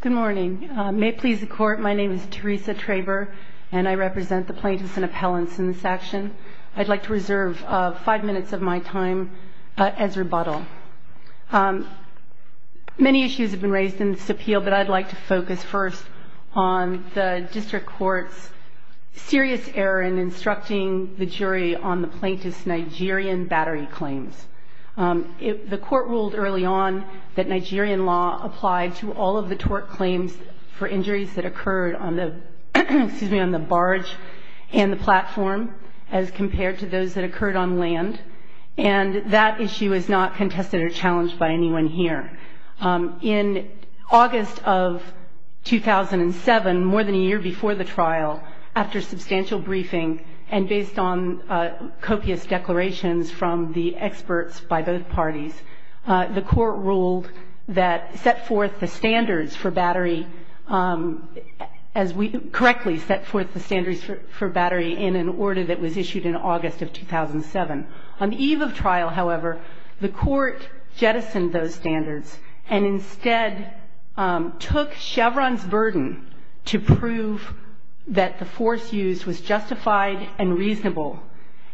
Good morning. May it please the Court, my name is Teresa Traber, and I represent the Plaintiffs and Appellants in this action. I'd like to reserve five minutes of my time as rebuttal. Many issues have been raised in this appeal, but I'd like to focus first on the District Court's serious error in instructing the jury on the plaintiff's Nigerian battery claims. The Court ruled early on that Nigerian law applied to all of the tort claims for injuries that occurred on the barge and the platform as compared to those that occurred on land, and that issue is not contested or challenged by anyone here. In August of 2007, more than a year before the trial, after substantial briefing and based on copious declarations from the experts by both parties, the Court ruled that set forth the standards for battery, as we correctly set forth the standards for battery in an order that was issued in August of 2007. On the eve of trial, however, the Court jettisoned those standards and instead took Chevron's burden to prove that the force used was justified and reasonable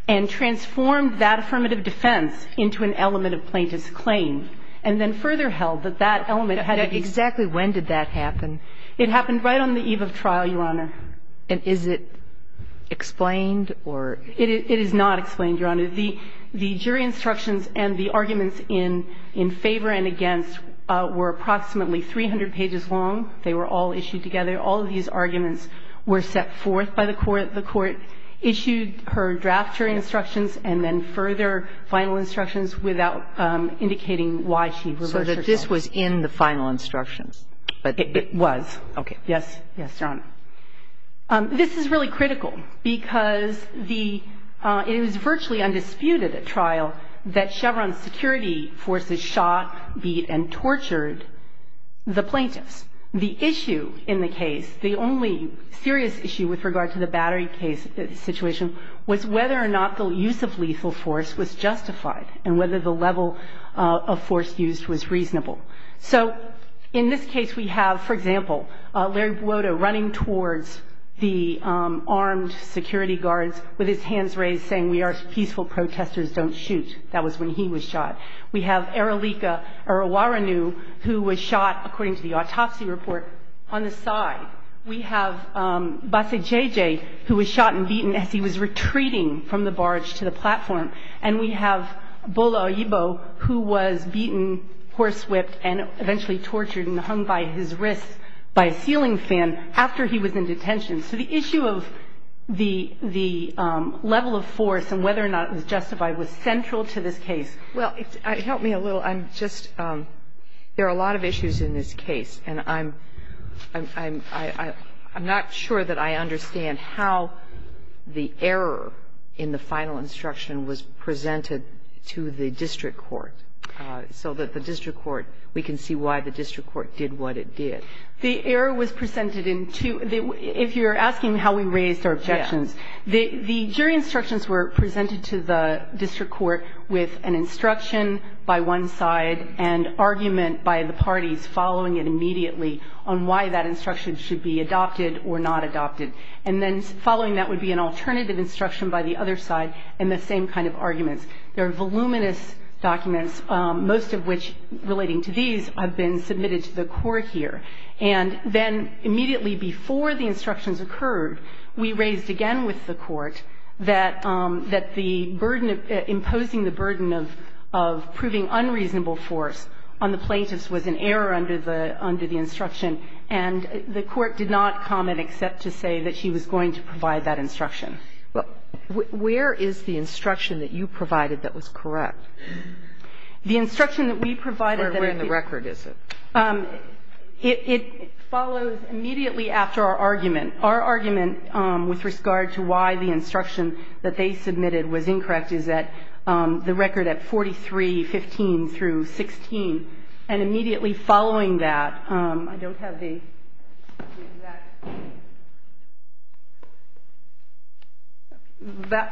and transformed that affirmative defense into an element of plaintiff's claim and then further held that that element had to be... Exactly when did that happen? It happened right on the eve of trial, Your Honor. And is it explained or... It is not explained, Your Honor. The jury instructions and the arguments in favor and against were approximately 300 pages long. They were all issued together. All of these arguments were set forth by the Court. The Court issued her draft jury instructions and then further final instructions without indicating why she reversed herself. So that this was in the final instructions. It was. Okay. Yes. Yes, Your Honor. This is really critical because the – it was virtually undisputed at trial that Chevron's security forces shot, beat and tortured the plaintiffs. The issue in the case, the only serious issue with regard to the battery case situation, was whether or not the use of lethal force was justified and whether the level of force used was reasonable. So in this case we have, for example, Larry Buoto running towards the armed security guards with his hands raised saying we are peaceful protesters, don't shoot. That was when he was shot. We have Eralika Erawaranu who was shot, according to the autopsy report, on the side. We have Bassay J.J. who was shot and beaten as he was retreating from the barge to the platform. And we have Bola Oyebo who was beaten, horse whipped and eventually tortured and hung by his wrists by a ceiling fan after he was in detention. So the issue of the level of force and whether or not it was justified was central to this case. Well, help me a little. I'm just, there are a lot of issues in this case, and I'm not sure that I understand how the error in the final instruction was presented to the district court so that the district court, we can see why the district court did what it did. The error was presented in two. If you're asking how we raised our objections, the jury instructions were presented to the district court with an instruction by one side and argument by the parties following it immediately on why that instruction should be adopted or not adopted. And then following that would be an alternative instruction by the other side and the same kind of arguments. There are voluminous documents, most of which, relating to these, have been submitted to the court here. And then immediately before the instructions occurred, we raised again with the court that the burden of imposing the burden of proving unreasonable force on the plaintiffs was an error under the instruction, and the court did not comment except to say that she was going to provide that instruction. Well, where is the instruction that you provided that was correct? The instruction that we provided that I think was correct. Where in the record is it? It follows immediately after our argument. Our argument with regard to why the instruction that they submitted was incorrect is that the record at 4315 through 16, and immediately following that, I don't have the exact,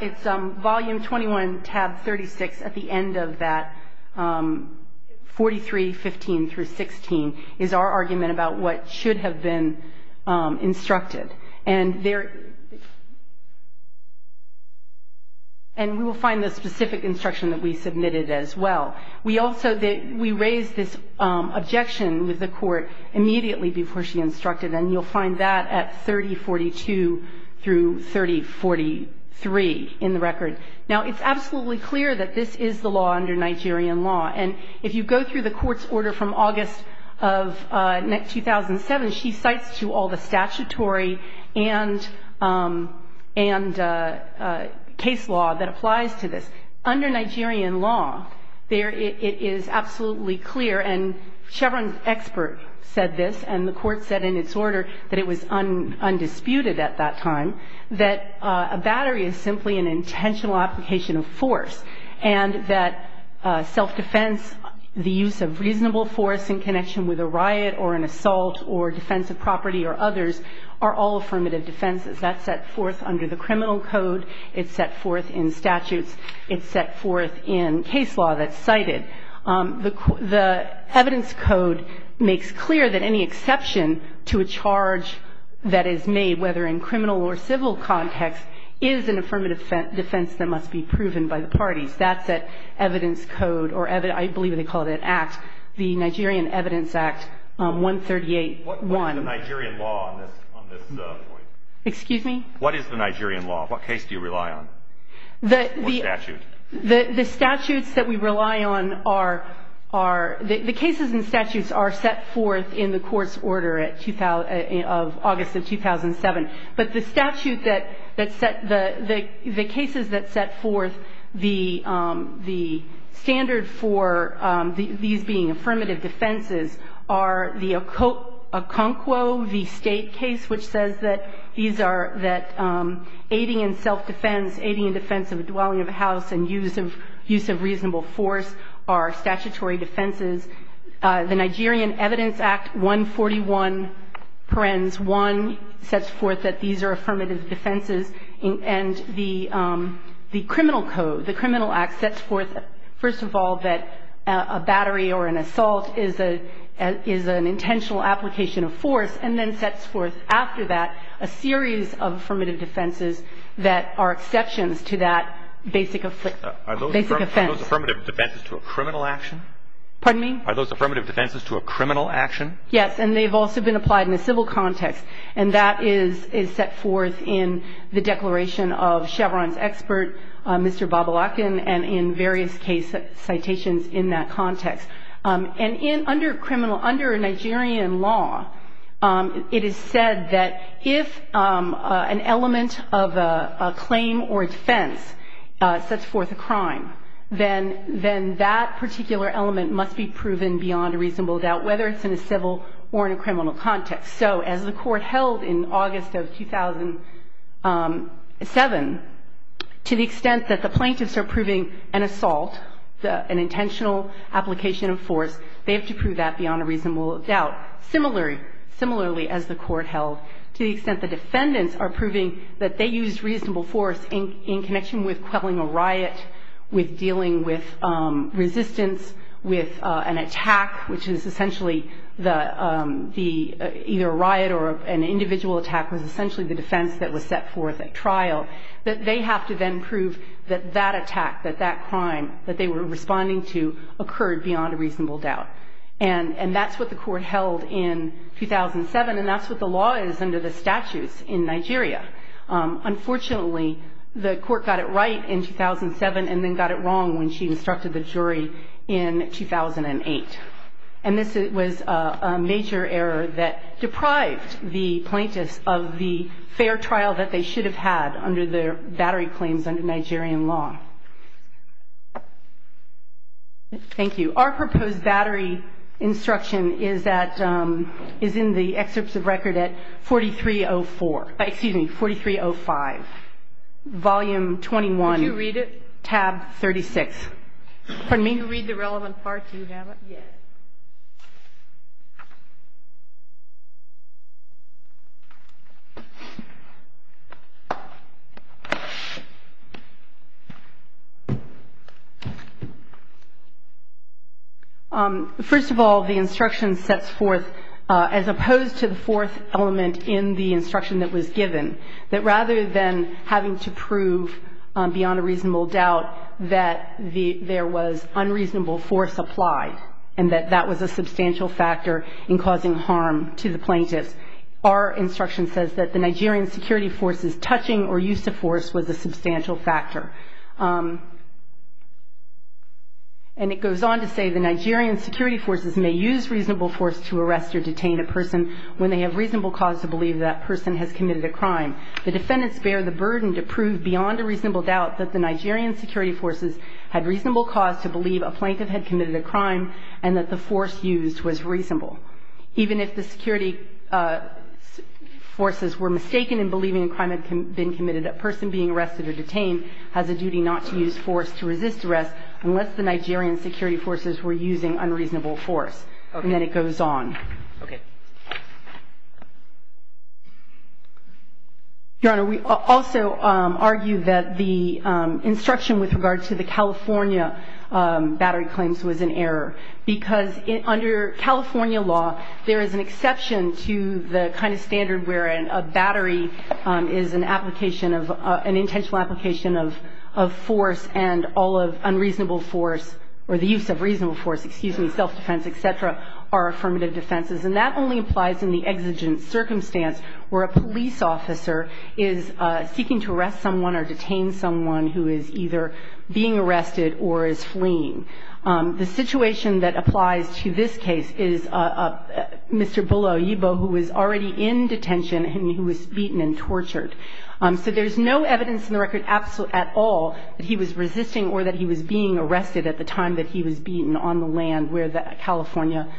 it's volume 21, tab 36 at the end of that, 4315 through 16 is our argument about what should have been instructed. And there, and we will find the specific instruction that we submitted as well. We also, we raised this objection with the court immediately before she instructed, and you'll find that at 3042 through 3043 in the record. Now, it's absolutely clear that this is the law under Nigerian law, and if you go through the court's order from August of 2007, she cites to all the statutory and case law that applies to this. Under Nigerian law, it is absolutely clear, and Chevron's expert said this, and the court said in its order that it was undisputed at that time, that a battery is simply an intentional application of force, and that self-defense, the use of reasonable force in connection with a riot or an assault or defensive property or others are all affirmative defenses. That's set forth under the criminal code. It's set forth in statutes. It's set forth in case law that's cited. The evidence code makes clear that any exception to a charge that is made, whether in criminal or civil context, is an affirmative defense that must be proven by the parties. That's evidence code, or I believe they call it an act, the Nigerian Evidence Act 138-1. What is the Nigerian law on this point? Excuse me? What is the Nigerian law? What case do you rely on? What statute? The statutes that we rely on are, the cases and statutes are set forth in the court's order of August of 2007, but the statute that set, the cases that set forth the standard for these being affirmative defenses are the Okonkwo, the state case which says that these are, that aiding and self-defense, aiding and defense of a dwelling of a house and use of reasonable force are statutory defenses. The Nigerian Evidence Act 141-1 sets forth that these are affirmative defenses, and the criminal code, the criminal act sets forth, first of all, that a battery or an assault is an intentional application of force, and then sets forth after that a series of affirmative defenses that are exceptions to that basic offense. Are those affirmative defenses to a criminal action? Pardon me? Are those affirmative defenses to a criminal action? Yes, and they've also been applied in a civil context, and that is set forth in the Declaration of Chevron's Expert, Mr. Babalakan, and in various case citations in that context. And in, under criminal, under Nigerian law, it is said that if an element of a claim or a defense sets forth a crime, then that particular element must be proven beyond a reasonable doubt, whether it's in a civil or in a criminal context. So as the Court held in August of 2007, to the extent that the plaintiffs are proving an assault, an intentional application of force, they have to prove that beyond a reasonable doubt. Similarly, as the Court held, to the extent the defendants are proving that they used reasonable force in connection with quelling a riot, with dealing with resistance, with an attack, which is essentially the, either a riot or an individual attack, was essentially the defense that was set forth at trial, that they have to then prove that that attack, that that crime that they were responding to occurred beyond a reasonable doubt. And that's what the Court held in 2007, and that's what the law is under the statutes in Nigeria. Unfortunately, the Court got it right in 2007, and then got it wrong when she instructed the jury in 2008. And this was a major error that deprived the plaintiffs of the fair trial that they should have had under the battery claims under Nigerian law. Thank you. Our proposed battery instruction is that, is in the excerpts of record at 4304, excuse me, 4305, volume 21. Did you read it? Tab 36. Pardon me? Can you read the relevant part? Do you have it? Yes. First of all, the instruction sets forth, as opposed to the fourth element in the instruction that was given, that rather than having to prove beyond a reasonable doubt that there was unreasonable force applied and that that was a substantial factor in causing harm to the plaintiffs, our instruction says that the Nigerian security forces touching or use of force was a substantial factor. And it goes on to say, the Nigerian security forces may use reasonable force to arrest or detain a person when they have reasonable cause to believe that person has committed a crime. The defendants bear the burden to prove beyond a reasonable doubt that the Nigerian security forces had reasonable cause to believe a plaintiff had committed a crime and that the force used was reasonable. Even if the security forces were mistaken in believing a crime had been committed, a person being arrested or detained has a duty not to use force to resist arrest unless the Nigerian security forces were using unreasonable force. Okay. And then it goes on. Okay. Your Honor, we also argue that the instruction with regard to the California battery claims was an error because under California law, there is an exception to the kind of standard wherein a battery is an application of an intentional application of force and all of unreasonable force or the use of reasonable force, excuse me, self-defense, et cetera, are affirmative defenses. And that only applies in the exigent circumstance where a police officer is seeking to arrest someone or detain someone who is either being arrested or is fleeing. The situation that applies to this case is Mr. Bula Oyibu who was already in detention and he was beaten and tortured. So there's no evidence in the record at all that he was resisting or that he was being arrested at the time that he was beaten on the land where the California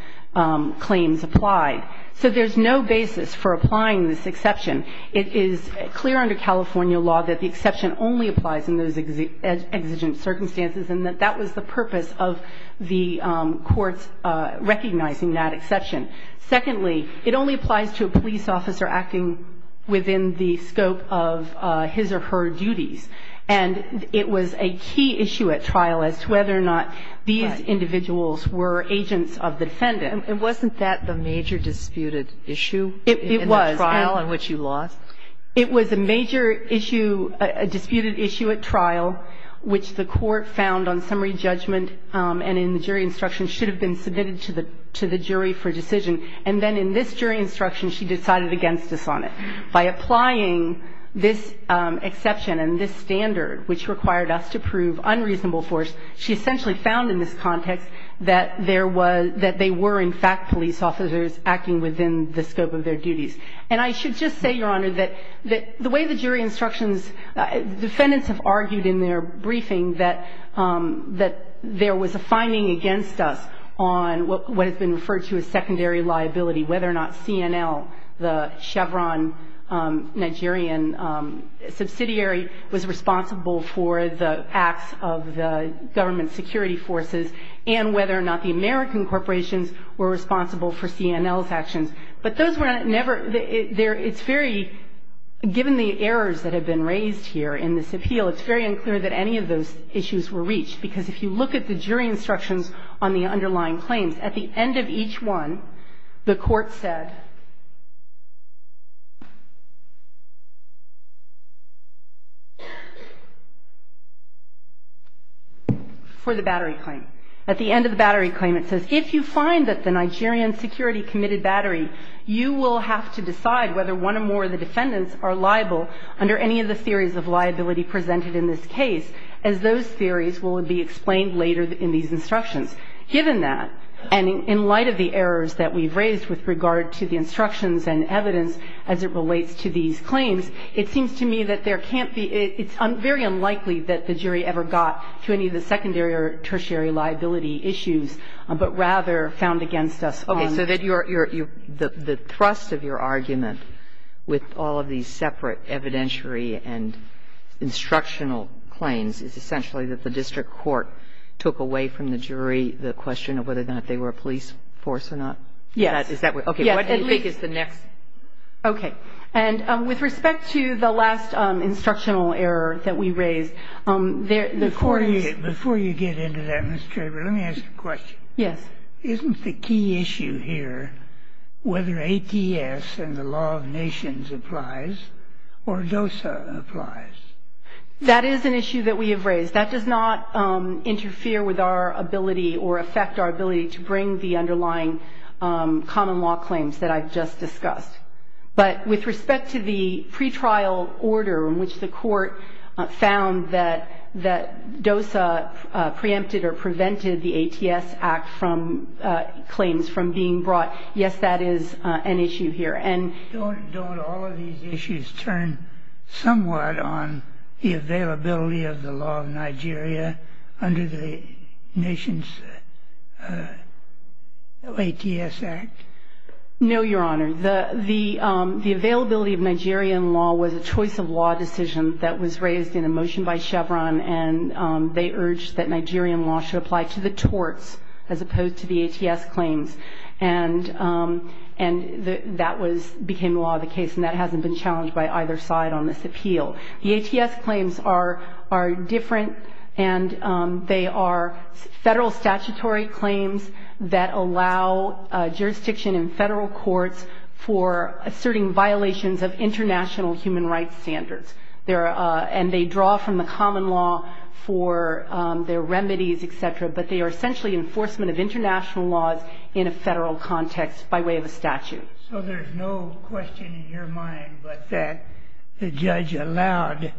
claims applied. So there's no basis for applying this exception. It is clear under California law that the exception only applies in those exigent circumstances and that that was the purpose of the courts recognizing that exception. Secondly, it only applies to a police officer acting within the scope of his or her duties. And it was a key issue at trial as to whether or not these individuals were agents of the defendants. And wasn't that the major disputed issue? It was. In the trial in which you lost? It was a major issue, a disputed issue at trial, which the court found on summary judgment and in the jury instruction should have been submitted to the jury for decision. And then in this jury instruction she decided against us on it. By applying this exception and this standard, which required us to prove unreasonable force, she essentially found in this context that there was, that they were in fact police officers acting within the scope of their duties. And I should just say, Your Honor, that the way the jury instructions, defendants have argued in their briefing that there was a finding against us on what has been referred to as secondary liability, whether or not CNL, the Chevron Nigerian subsidiary, was responsible for the acts of the government security forces and whether or not the American corporations were responsible for CNL's actions. But those were never there. It's very, given the errors that have been raised here in this appeal, it's very unclear that any of those issues were reached, because if you look at the jury instructions on the underlying claims, at the end of each one the court said for the battery claim. At the end of the battery claim it says, if you find that the Nigerian security committed battery, you will have to decide whether one or more of the defendants are liable under any of the theories of liability presented in this case, as those theories will be explained later in these instructions. Given that, and in light of the errors that we've raised with regard to the instructions and evidence as it relates to these claims, it seems to me that there can't be, it's very unlikely that the jury ever got to any of the secondary or tertiary liability issues. But rather, found against us on the case. Kagan. Okay. So that your, the thrust of your argument with all of these separate evidentiary and instructional claims is essentially that the district court took away from the jury the question of whether or not they were a police force or not? Yes. Is that what? Okay. What do you think is the next? Okay. And with respect to the last instructional error that we raised, there, the court Before you get into that, Ms. Traber, let me ask you a question. Yes. Isn't the key issue here whether ATS and the law of nations applies or DOSA applies? That is an issue that we have raised. That does not interfere with our ability or affect our ability to bring the underlying common law claims that I've just discussed. But with respect to the pretrial order in which the court found that DOSA preempted or prevented the ATS Act from claims from being brought, yes, that is an issue here. And don't all of these issues turn somewhat on the availability of the law of Nigeria under the Nations ATS Act? No, Your Honor. The availability of Nigerian law was a choice of law decision that was raised in a motion by Chevron, and they urged that Nigerian law should apply to the torts as opposed to the ATS claims. And that became law of the case, and that hasn't been challenged by either side on this appeal. The ATS claims are different, and they are federal statutory claims that allow jurisdiction in federal courts for asserting violations of international human rights standards. And they draw from the common law for their remedies, et cetera, but they are essentially enforcement of international laws in a federal context by way of a statute. So there's no question in your mind that the judge allowed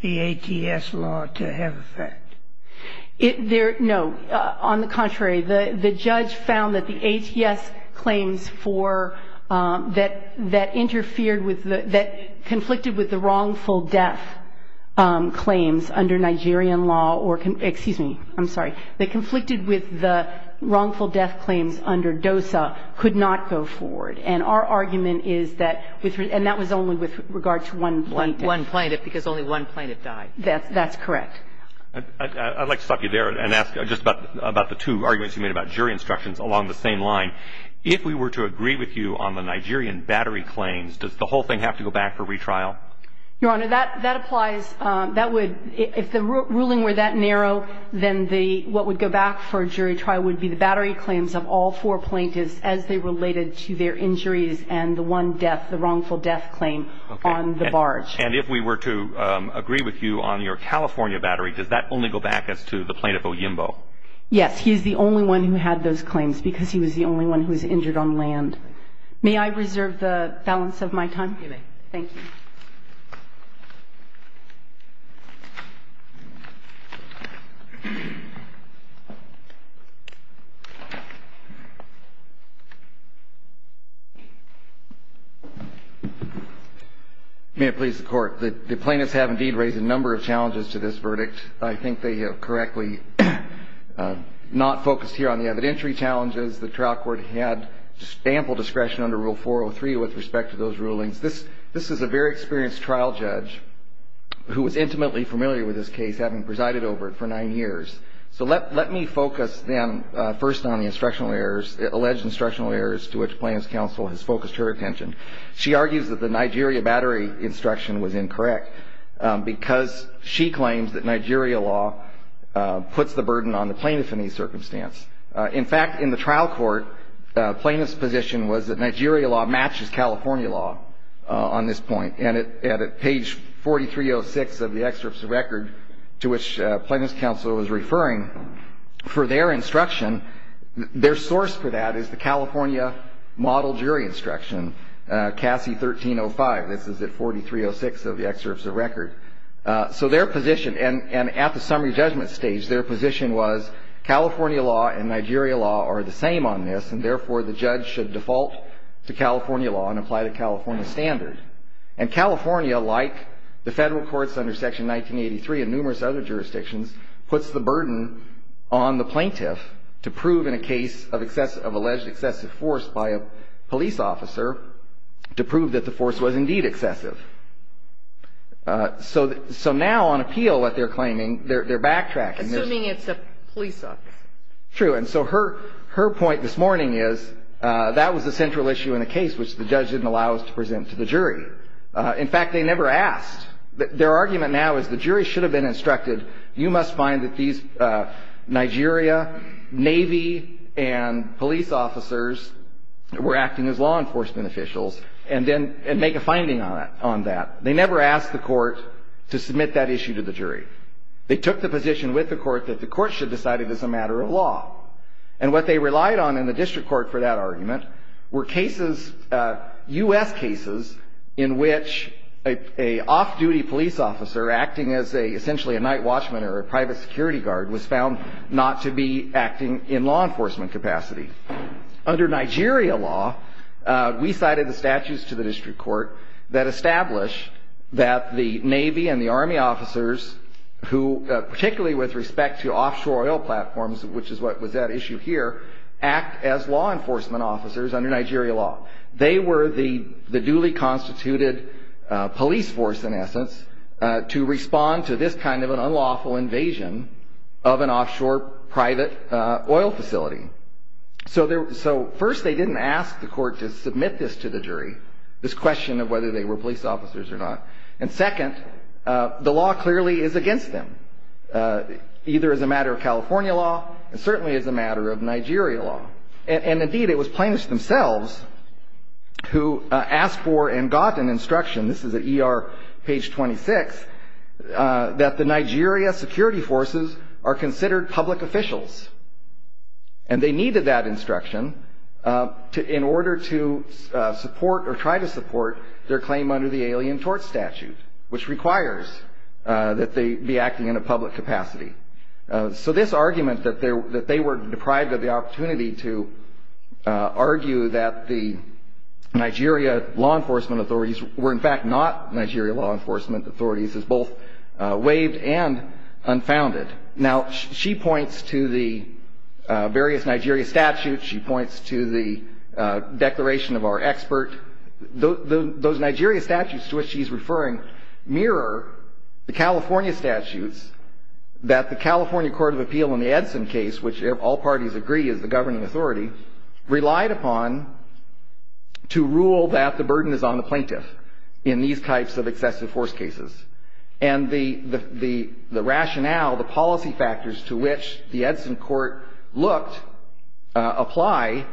the ATS law to have effect? No. On the contrary, the judge found that the ATS claims that interfered with the – that conflicted with the wrongful death claims under Nigerian law or – excuse me, I'm And our argument is that – and that was only with regard to one plaintiff. One plaintiff, because only one plaintiff died. That's correct. I'd like to stop you there and ask just about the two arguments you made about jury instructions along the same line. If we were to agree with you on the Nigerian battery claims, does the whole thing have to go back for retrial? Your Honor, that applies. That would – if the ruling were that narrow, then the – what would go back for jury related to their injuries and the one death, the wrongful death claim on the barge. And if we were to agree with you on your California battery, does that only go back as to the plaintiff Oyimbo? Yes. He's the only one who had those claims, because he was the only one who was injured on land. May I reserve the balance of my time? You may. Thank you. May it please the Court. The plaintiffs have indeed raised a number of challenges to this verdict. I think they have correctly not focused here on the evidentiary challenges. The trial court had ample discretion under Rule 403 with respect to those rulings. This is a very experienced trial judge who was intimately familiar with this case, having presided over it for nine years. So let me focus then first on the instructional errors, alleged instructional errors to which plaintiff's counsel has focused her attention. She argues that the Nigeria battery instruction was incorrect because she claims that Nigeria law puts the burden on the plaintiff in any circumstance. In fact, in the trial court, plaintiff's position was that Nigeria law matches California law on this point. And at page 4306 of the excerpts of record to which plaintiff's counsel was referring, for their instruction, their source for that is the California model jury instruction, CASI 1305. This is at 4306 of the excerpts of record. So their position, and at the summary judgment stage, their position was California law and Nigeria law are the same on this, and therefore the judge should default to California law and apply the California standard. And California, like the Federal courts under Section 1983 and numerous other jurisdictions, puts the burden on the plaintiff to prove in a case of alleged excessive force by a police officer to prove that the force was indeed excessive. So now on appeal, what they're claiming, they're backtracking. Assuming it's a police officer. True. And so her point this morning is that was the central issue in the case, which the judge didn't allow us to present to the jury. In fact, they never asked. Their argument now is the jury should have been instructed. You must find that these Nigeria Navy and police officers were acting as law enforcement officials and then make a finding on that. They never asked the court to submit that issue to the jury. They took the position with the court that the court should decide it as a matter of law. And what they relied on in the district court for that argument were cases, U.S. cases, in which an off-duty police officer acting as essentially a night watchman or a private security guard was found not to be acting in law enforcement capacity. Under Nigeria law, we cited the statutes to the district court that establish that the Navy and the Army officers who, particularly with respect to offshore oil platforms, which is what was at issue here, act as law enforcement officers under Nigeria law. They were the duly constituted police force, in essence, to respond to this kind of an unlawful invasion of an offshore private oil facility. So first, they didn't ask the court to submit this to the jury, this question of whether they were police officers or not. And second, the law clearly is against them, either as a matter of California law and certainly as a matter of Nigeria law. And indeed, it was plaintiffs themselves who asked for and got an instruction, this is at ER page 26, that the Nigeria security forces are considered public officials. And they needed that instruction in order to support or try to support their claim under the Alien Tort Statute, which requires that they be acting in a public capacity. So this argument that they were deprived of the opportunity to argue that the Nigeria law enforcement authorities were in fact not Nigeria law enforcement authorities is both waived and unfounded. Now, she points to the various Nigeria statutes. She points to the declaration of our expert. Those Nigeria statutes to which she's referring mirror the California statutes that the California Court of Appeal in the Edson case, which all parties agree is the governing authority, relied upon to rule that the burden is on the plaintiff in these types of excessive force cases. And the rationale, the policy factors to which the Edson court looked apply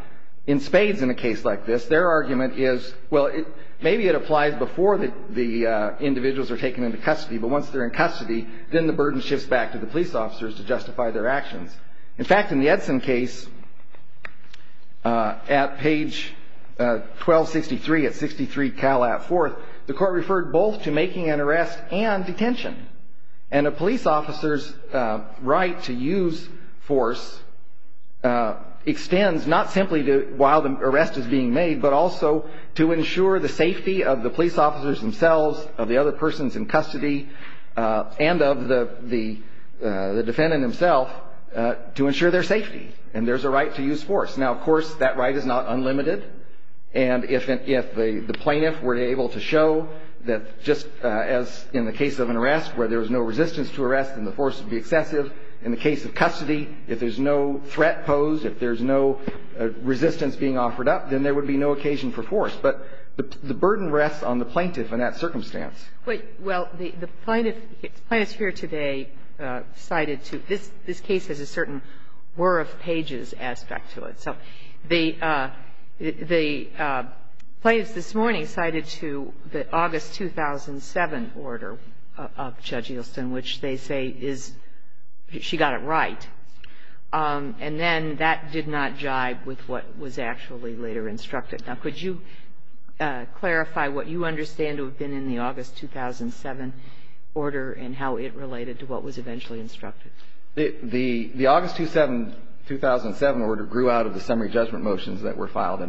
in spades in a case like this. Their argument is, well, maybe it applies before the individuals are taken into custody. But once they're in custody, then the burden shifts back to the police officers to justify their actions. In fact, in the Edson case at page 1263, at 63 Cal at 4th, the court referred both to making an arrest and detention. And a police officer's right to use force extends not simply while the arrest is being made, but also to ensure the safety of the police officers themselves, of the other persons in custody, and of the defendant himself, to ensure their safety. And there's a right to use force. Now, of course, that right is not unlimited. And if the plaintiff were able to show that just as in the case of an arrest where there was no resistance to arrest, then the force would be excessive. In the case of custody, if there's no threat posed, if there's no resistance being offered up, then there would be no occasion for force. But the burden rests on the plaintiff in that circumstance. But, well, the plaintiff here today cited to this case has a certain whir of pages aspect to it. So the plaintiffs this morning cited to the August 2007 order of Judge Eelston, which they say is, she got it right. And then that did not jibe with what was actually later instructed. Now, could you clarify what you understand to have been in the August 2007 order and how it related to what was eventually instructed? The August 2007 order grew out of the summary judgment motions that were filed.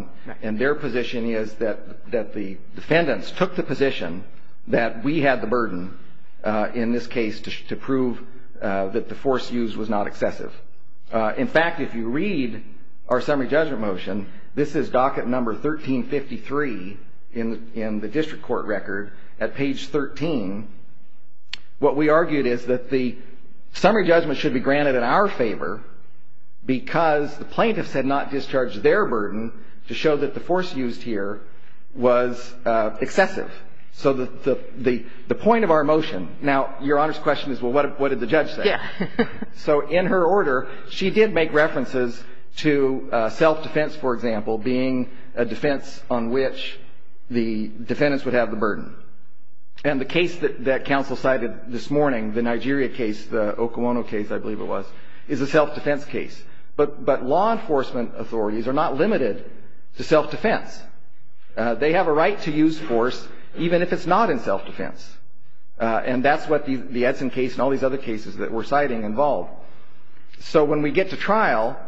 And their position is that the defendants took the position that we had the burden in this case to prove that the force used was not excessive. In fact, if you read our summary judgment motion, this is docket number 1353 in the district court record. At page 13, what we argued is that the summary judgment should be granted in our favor because the plaintiffs had not discharged their burden to show that the force used here was excessive. So the point of our motion, now, Your Honor's question is, well, what did the judge say? Yeah. So in her order, she did make references to self-defense, for example, being a defense on which the defendants would have the burden. And the case that counsel cited this morning, the Nigeria case, the Okawono case, I believe it was, is a self-defense case. But law enforcement authorities are not limited to self-defense. They have a right to use force even if it's not in self-defense. And that's what the Edson case and all these other cases that we're citing involved. So when we get to trial,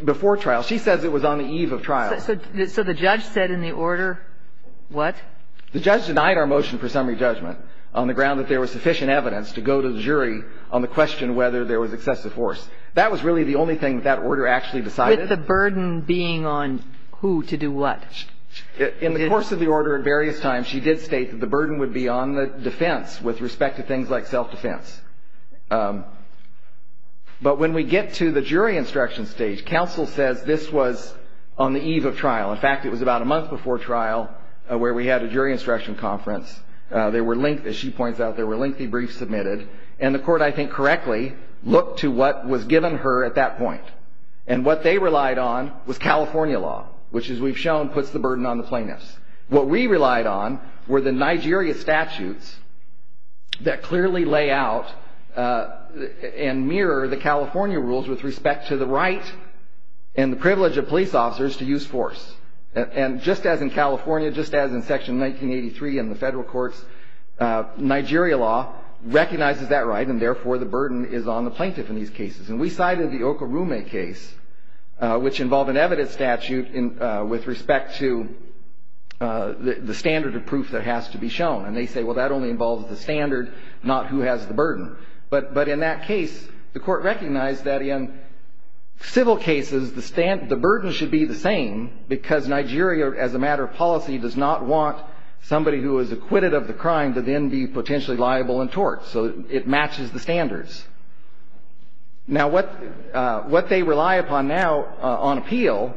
before trial, she says it was on the eve of trial. So the judge said in the order what? The judge denied our motion for summary judgment on the ground that there was sufficient evidence to go to the jury on the question whether there was excessive force. That was really the only thing that that order actually decided. With the burden being on who to do what? In the course of the order at various times, she did state that the burden would be on the defense with respect to things like self-defense. But when we get to the jury instruction stage, counsel says this was on the eve of trial. In fact, it was about a month before trial where we had a jury instruction conference. There were lengthy, as she points out, there were lengthy briefs submitted. And the Court, I think correctly, looked to what was given her at that point. And what they relied on was California law, which, as we've shown, puts the burden on the plaintiffs. What we relied on were the Nigeria statutes that clearly lay out and mirror the California rules with respect to the right and the privilege of police officers to use force. And just as in California, just as in Section 1983 in the federal courts, Nigeria law recognizes that right and, therefore, the burden is on the plaintiff in these cases. And we cited the Okorume case, which involved an evidence statute with respect to the standard of proof that has to be shown. And they say, well, that only involves the standard, not who has the burden. But in that case, the Court recognized that in civil cases, the burden should be the same because Nigeria, as a matter of policy, does not want somebody who is acquitted of the crime to then be potentially liable and tort. So it matches the standards. Now, what they rely upon now on appeal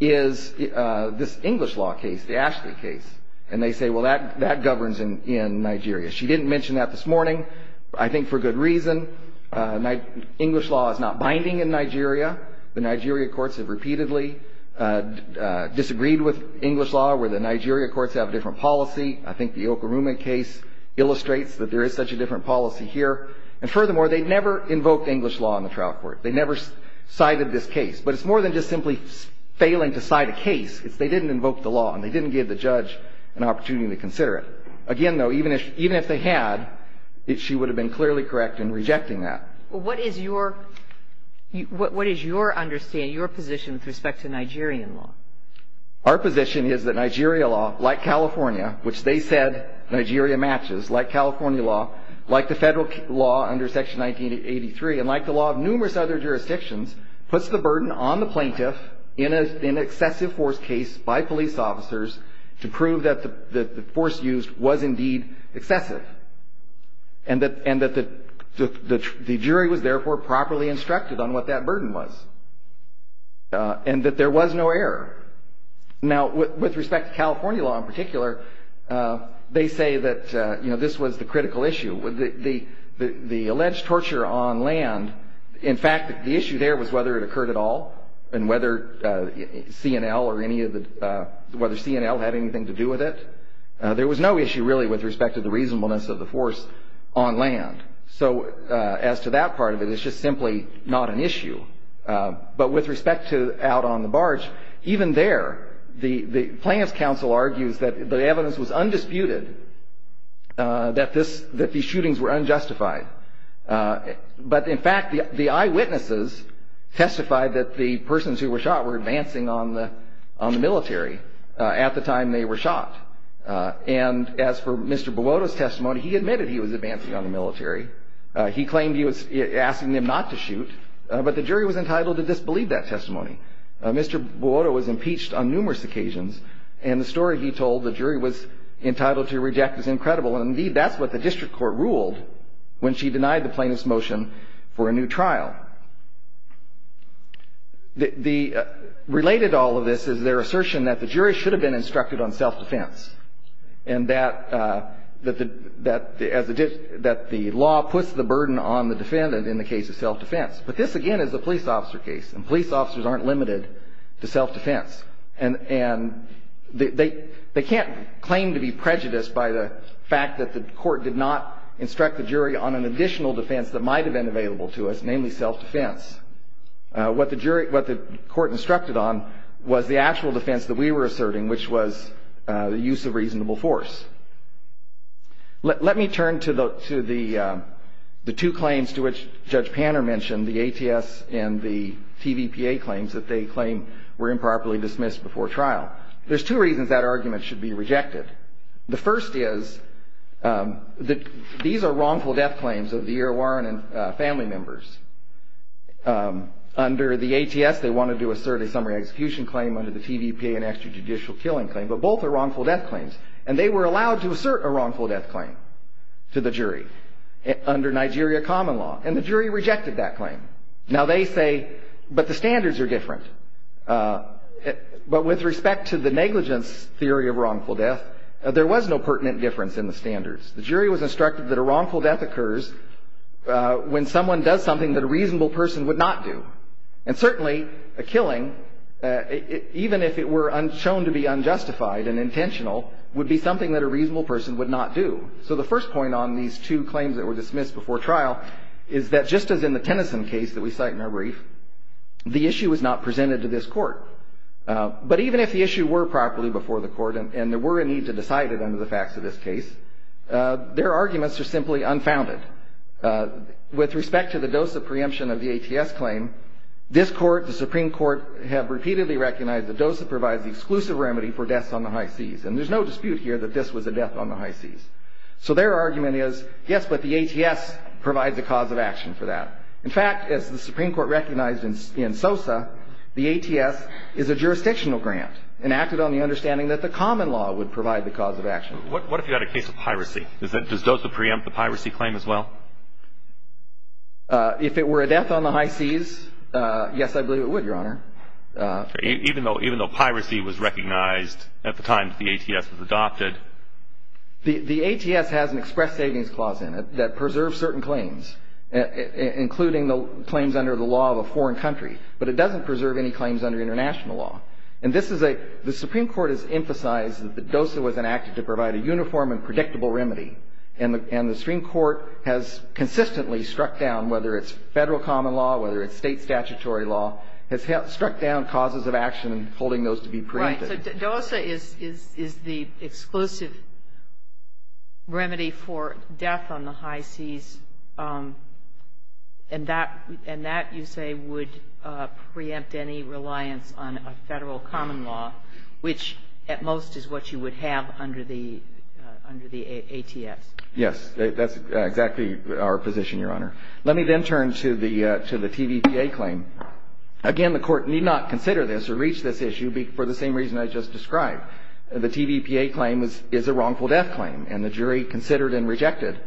is this English law case, the Ashley case. And they say, well, that governs in Nigeria. She didn't mention that this morning. I think for good reason. English law is not binding in Nigeria. The Nigeria courts have repeatedly disagreed with English law, where the Nigeria courts have a different policy. I think the Okorume case illustrates that there is such a different policy here. And furthermore, they never invoked English law in the trial court. They never cited this case. But it's more than just simply failing to cite a case. It's they didn't invoke the law, and they didn't give the judge an opportunity to consider it. Again, though, even if they had, she would have been clearly correct in rejecting that. Well, what is your understanding, your position with respect to Nigerian law? Our position is that Nigeria law, like California, which they said Nigeria matches, like California law, like the federal law under Section 1983, and like the law of numerous other jurisdictions, puts the burden on the plaintiff in an excessive force case by police officers to prove that the force used was indeed excessive, and that the jury was therefore properly instructed on what that burden was, and that there was no error. Now, with respect to California law in particular, they say that this was the critical issue. The alleged torture on land, in fact, the issue there was whether it occurred at all, and whether C&L had anything to do with it. There was no issue, really, with respect to the reasonableness of the force on land. So as to that part of it, it's just simply not an issue. But with respect to out on the barge, even there, the Plaintiff's Counsel argues that the evidence was undisputed, that these shootings were unjustified. But in fact, the eyewitnesses testified that the persons who were shot were advancing on the military at the time they were shot. And as for Mr. Bawota's testimony, he admitted he was advancing on the military. He claimed he was asking them not to shoot, but the jury was entitled to disbelieve that testimony. Mr. Bawota was impeached on numerous occasions, and the story he told the jury was entitled to reject is incredible. And indeed, that's what the district court ruled when she denied the plaintiff's motion for a new trial. Related to all of this is their assertion that the jury should have been instructed on self-defense, and that the law puts the burden on the defendant in the case of self-defense. But this, again, is a police officer case, and police officers aren't limited to self-defense. And they can't claim to be prejudiced by the fact that the court did not instruct the jury on an additional defense that might have been available to us, namely self-defense. What the court instructed on was the actual defense that we were asserting, which was the use of reasonable force. Let me turn to the two claims to which Judge Panner mentioned, the ATS and the TVPA claims that they claim were improperly dismissed before trial. There's two reasons that argument should be rejected. The first is that these are wrongful death claims of the E.R. Warren and family members. Under the ATS, they wanted to assert a summary execution claim under the TVPA and extrajudicial killing claim, but both are wrongful death claims. And they were allowed to assert a wrongful death claim to the jury under Nigeria common law, and the jury rejected that claim. Now they say, but the standards are different. But with respect to the negligence theory of wrongful death, there was no pertinent difference in the standards. The jury was instructed that a wrongful death occurs when someone does something that a reasonable person would not do. And certainly, a killing, even if it were shown to be unjustified and intentional, would be something that a reasonable person would not do. So the first point on these two claims that were dismissed before trial is that just as in the Tennyson case that we cite in our brief, the issue was not presented to this Court. But even if the issue were properly before the Court and there were a need to decide it under the facts of this case, their arguments are simply unfounded. With respect to the DOSA preemption of the ATS claim, this Court, the Supreme Court, have repeatedly recognized that DOSA provides the exclusive remedy for deaths on the high seas. And there's no dispute here that this was a death on the high seas. So their argument is, yes, but the ATS provides a cause of action for that. In fact, as the Supreme Court recognized in SOSA, the ATS is a jurisdictional grant, and acted on the understanding that the common law would provide the cause of action. What if you had a case of piracy? Does DOSA preempt the piracy claim as well? If it were a death on the high seas, yes, I believe it would, Your Honor. Even though piracy was recognized at the time that the ATS was adopted? The ATS has an express savings clause in it that preserves certain claims, including the claims under the law of a foreign country. But it doesn't preserve any claims under international law. And this is a – the Supreme Court has emphasized that DOSA was enacted to provide a uniform and predictable remedy. And the Supreme Court has consistently struck down, whether it's federal common law, whether it's state statutory law, has struck down causes of action and holding those to be preempted. Right. So DOSA is the exclusive remedy for death on the high seas. And that, you say, would preempt any reliance on a federal common law, which at most is what you would have under the ATS. Yes. That's exactly our position, Your Honor. Let me then turn to the TVPA claim. Again, the Court need not consider this or reach this issue for the same reason I just described. The TVPA claim is a wrongful death claim. And the jury considered and rejected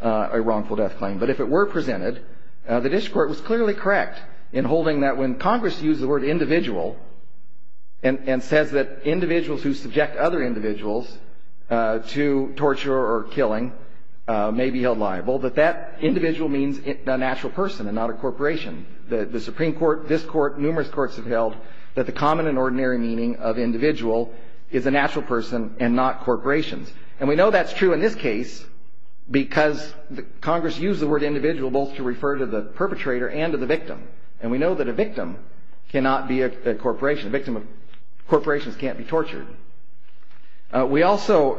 a wrongful death claim. But if it were presented, the district court was clearly correct in holding that when Congress used the word individual and says that individuals who subject other individuals to torture or killing may be held liable, that that individual means a natural person and not a corporation. The Supreme Court, this Court, numerous courts have held that the common and ordinary meaning of individual is a natural person and not corporations. And we know that's true in this case because Congress used the word individual both to refer to the perpetrator and to the victim. And we know that a victim cannot be a corporation. A victim of corporations can't be tortured. We also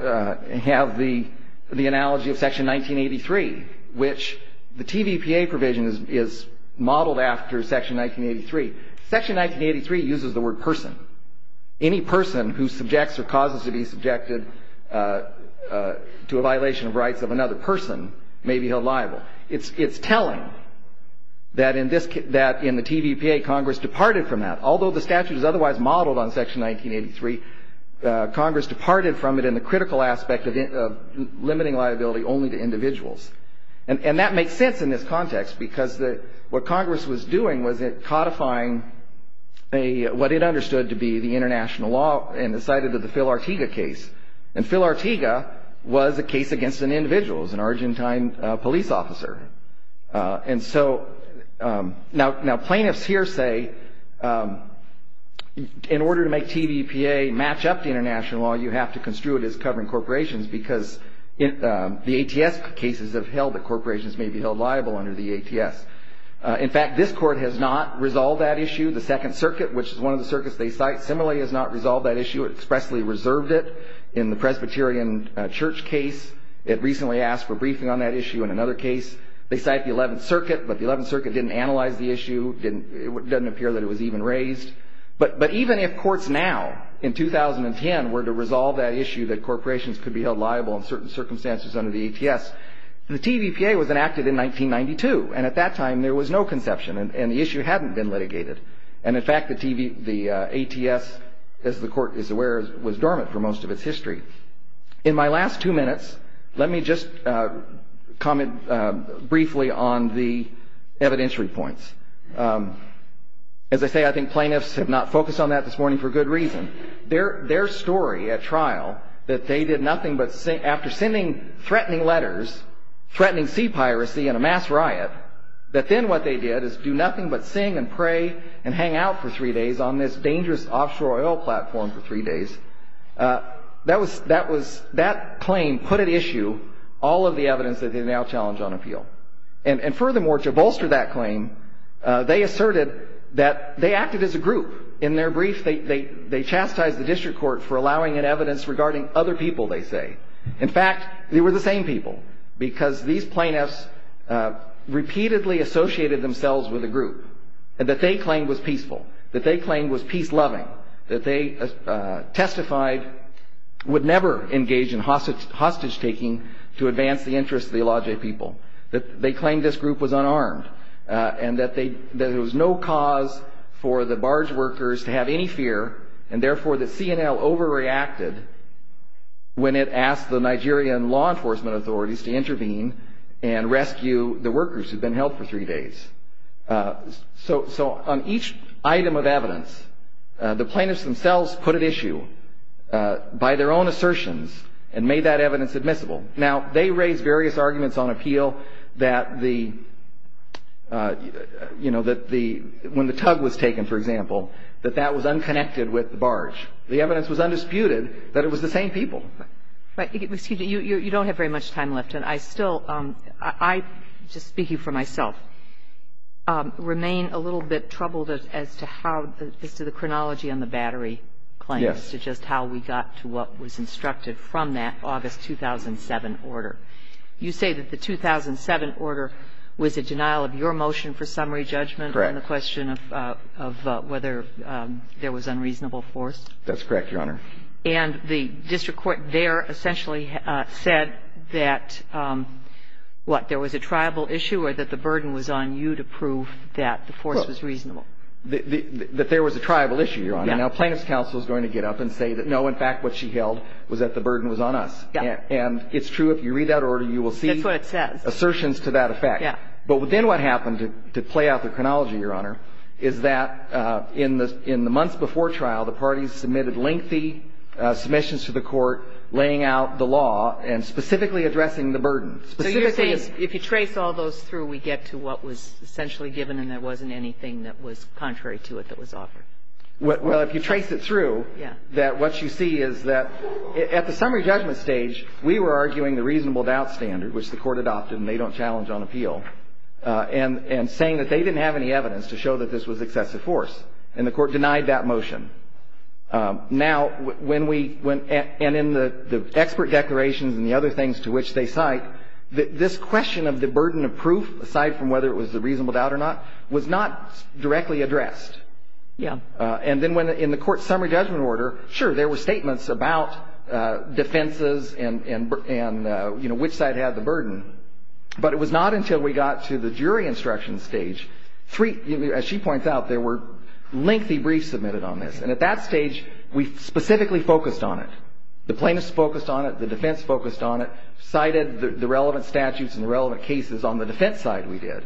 have the analogy of Section 1983, which the TVPA provision is modeled after Section 1983. Section 1983 uses the word person. Any person who subjects or causes to be subjected to a violation of rights of another person may be held liable. It's telling that in the TVPA, Congress departed from that. Although the statute is otherwise modeled on Section 1983, Congress departed from it in the critical aspect of limiting liability only to individuals. And that makes sense in this context because what Congress was doing was it codifying what it understood to be the international law and decided that the Phil Ortega case. And Phil Ortega was a case against an individual, an Argentine police officer. And so now plaintiffs here say in order to make TVPA match up to international law, you have to construe it as covering corporations because the ATS cases have held that corporations may be held liable under the ATS. In fact, this court has not resolved that issue. The Second Circuit, which is one of the circuits they cite, similarly has not resolved that issue. It expressly reserved it in the Presbyterian Church case. It recently asked for briefing on that issue in another case. They cite the Eleventh Circuit, but the Eleventh Circuit didn't analyze the issue. It doesn't appear that it was even raised. But even if courts now in 2010 were to resolve that issue that corporations could be held liable in certain circumstances under the ATS, the TVPA was enacted in 1992, and at that time there was no conception, and the issue hadn't been litigated. And in fact, the ATS, as the court is aware, was dormant for most of its history. In my last two minutes, let me just comment briefly on the evidentiary points. As I say, I think plaintiffs have not focused on that this morning for good reason. Their story at trial, that they did nothing but, after sending threatening letters, threatening sea piracy and a mass riot, that then what they did is do nothing but sing and pray and hang out for three days on this dangerous offshore oil platform for three days, that claim put at issue all of the evidence that they now challenge on appeal. And furthermore, to bolster that claim, they asserted that they acted as a group. In their brief, they chastised the district court for allowing in evidence regarding other people, they say. In fact, they were the same people, because these plaintiffs repeatedly associated themselves with a group that they claimed was peaceful, that they claimed was peace-loving, that they testified would never engage in hostage-taking to advance the interests of the Aladji people, that they claimed this group was unarmed, and that there was no cause for the barge workers to have any fear, and therefore the CNL overreacted when it asked the Nigerian law enforcement authorities to intervene and rescue the workers who'd been held for three days. So on each item of evidence, the plaintiffs themselves put at issue by their own assertions and made that evidence admissible. Now, they raised various arguments on appeal that the, you know, that the, when the tug was taken, for example, that that was unconnected with the barge. The evidence was undisputed that it was the same people. But, excuse me, you don't have very much time left, and I still, I, just speaking for myself, remain a little bit troubled as to how, as to the chronology on the battery claim, as to just how we got to what was instructed from that August 2007 order. You say that the 2007 order was a denial of your motion for summary judgment on the question of whether there was unreasonable force? That's correct, Your Honor. And the district court there essentially said that, what, there was a tribal issue or that the burden was on you to prove that the force was reasonable? Well, that there was a tribal issue, Your Honor. Now, plaintiff's counsel is going to get up and say that, no, in fact, what she held was that the burden was on us. And it's true. If you read that order, you will see assertions to that effect. That's what it says. Yeah. But then what happened, to play out the chronology, Your Honor, is that in the months before trial, the parties submitted lengthy submissions to the court laying out the law and specifically addressing the burden. So you're saying if you trace all those through, we get to what was essentially given and there wasn't anything that was contrary to it that was offered? Well, if you trace it through, that what you see is that at the summary judgment stage, we were arguing the reasonable doubt standard, which the court adopted and they don't challenge on appeal, and saying that they didn't have any evidence to show that this was excessive force. And the court denied that motion. Now, when we went and in the expert declarations and the other things to which they cite, this question of the burden of proof, aside from whether it was the reasonable doubt or not, was not directly addressed. Yeah. And then when in the court summary judgment order, sure, there were statements about defenses and, you know, which side had the burden. But it was not until we got to the jury instruction stage, three, as she points out, there were lengthy briefs submitted on this. And at that stage, we specifically focused on it. The plaintiffs focused on it. The defense focused on it. Cited the relevant statutes and the relevant cases on the defense side we did.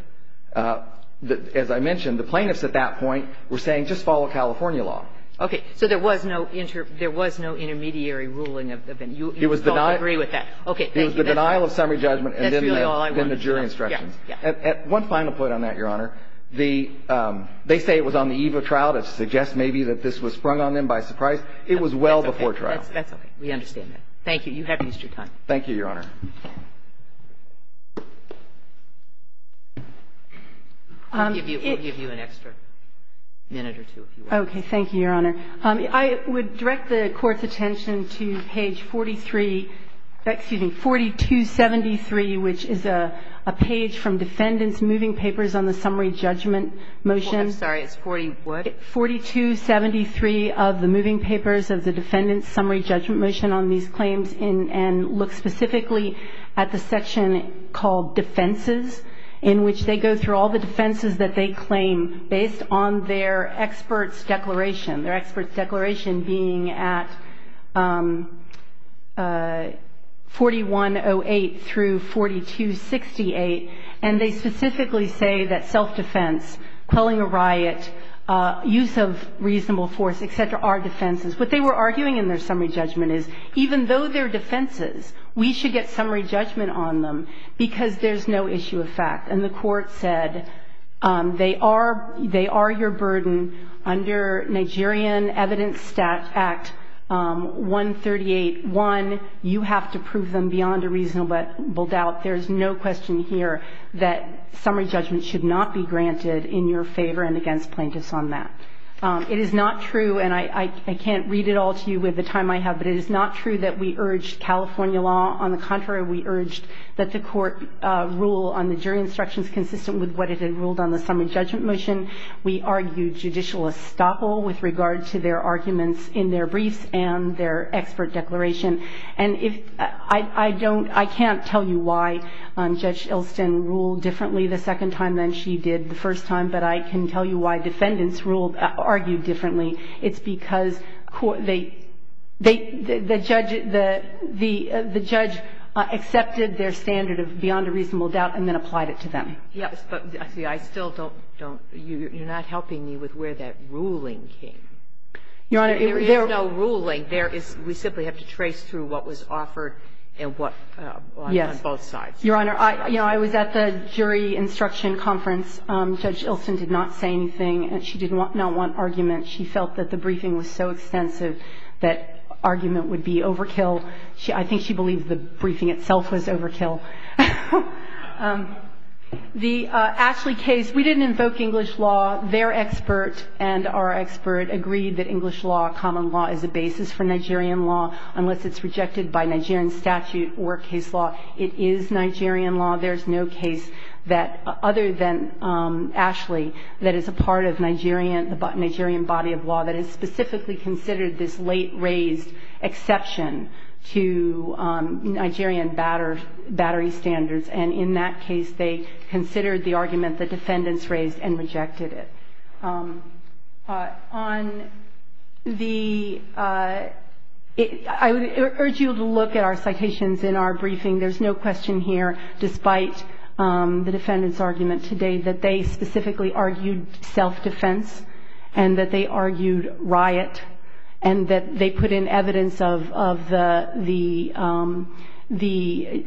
As I mentioned, the plaintiffs at that point were saying just follow California law. Okay. So there was no intermediary ruling. You all agree with that. Thank you. The denial of summary judgment and then the jury instructions. One final point on that, Your Honor. They say it was on the eve of trial to suggest maybe that this was sprung on them by surprise. It was well before trial. That's okay. We understand that. Thank you. You have used your time. Thank you, Your Honor. We'll give you an extra minute or two, if you want. Okay. Thank you, Your Honor. I would direct the Court's attention to page 43, excuse me, 4273, which is a page from Defendant's Moving Papers on the Summary Judgment Motion. I'm sorry. It's 42. 4273 of the Moving Papers of the Defendant's Summary Judgment Motion on these claims and look specifically at the section called defenses, in which they go through all the defenses that they claim based on their expert's declaration, their expert's declaration being at 4108 through 4268. And they specifically say that self-defense, quelling a riot, use of reasonable force, et cetera, are defenses. What they were arguing in their summary judgment is even though they're defenses, we should get summary judgment on them because there's no issue of fact. And the Court said they are your burden under Nigerian Evidence Act 138-1. You have to prove them beyond a reasonable doubt. There's no question here that summary judgment should not be granted in your favor and against plaintiffs on that. It is not true, and I can't read it all to you with the time I have, but it is not true that we urge California law. On the contrary, we urge that the Court rule on the jury instructions consistent with what it had ruled on the summary judgment motion. We argue judicial estoppel with regard to their arguments in their briefs and their expert declaration. And I can't tell you why Judge Ilston ruled differently the second time than she did the first time, but I can tell you why defendants argued differently. It's because they – the judge accepted their standard of beyond a reasonable doubt and then applied it to them. Yes. But see, I still don't – you're not helping me with where that ruling came. Your Honor, there is no ruling. There is – we simply have to trace through what was offered and what – on both sides. Yes. Your Honor, you know, I was at the jury instruction conference. Judge Ilston did not say anything. She did not want argument. She felt that the briefing was so extensive that argument would be overkill. I think she believed the briefing itself was overkill. The Ashley case, we didn't invoke English law. Their expert and our expert agreed that English law, common law, is a basis for Nigerian law unless it's rejected by Nigerian statute or case law. It is Nigerian law. There is no case that, other than Ashley, that is a part of Nigerian body of law that has specifically considered this late-raised exception to Nigerian battery standards, and in that case they considered the argument the defendants raised and rejected it. On the – I would urge you to look at our citations in our briefing. There's no question here, despite the defendants' argument today, that they specifically argued self-defense and that they argued riot and that they put in evidence of the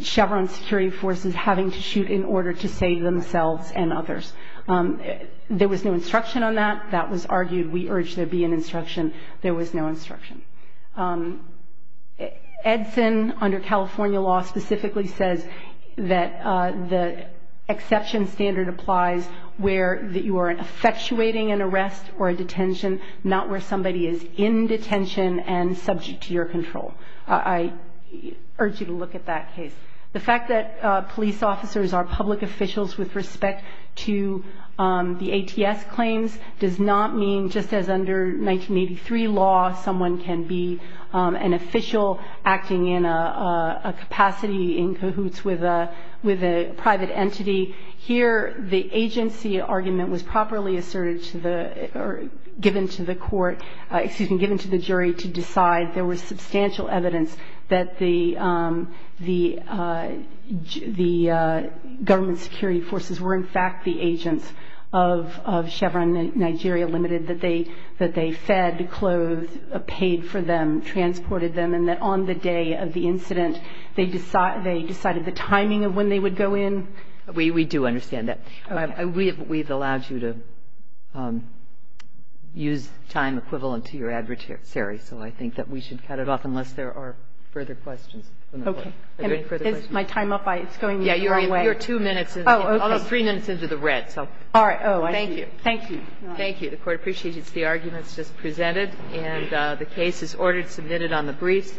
Chevron security forces having to shoot in order to save themselves and others. There was no instruction on that. That was argued. We urge there be an instruction. There was no instruction. Edson, under California law, specifically says that the exception standard applies where you are effectuating an arrest or a detention, not where somebody is in detention and subject to your control. I urge you to look at that case. The fact that police officers are public officials with respect to the ATS claims does not mean, just as under 1983 law, someone can be an official acting in a capacity in cahoots with a private entity. Here the agency argument was properly asserted to the – or given to the court – excuse me, given to the jury to decide. There was substantial evidence that the government security forces were in fact the agents of Chevron Nigeria Limited, that they fed, clothed, paid for them, transported them, and that on the day of the incident they decided the timing of when they would go in. We do understand that. We have allowed you to use time equivalent to your adversary, so I think that we should cut it off unless there are further questions. Is my time up? It's going the wrong way. Yeah. You're two minutes – almost three minutes into the red. All right. Thank you. Thank you. Thank you. The Court appreciates the arguments just presented, and the case is ordered submitted on the briefs.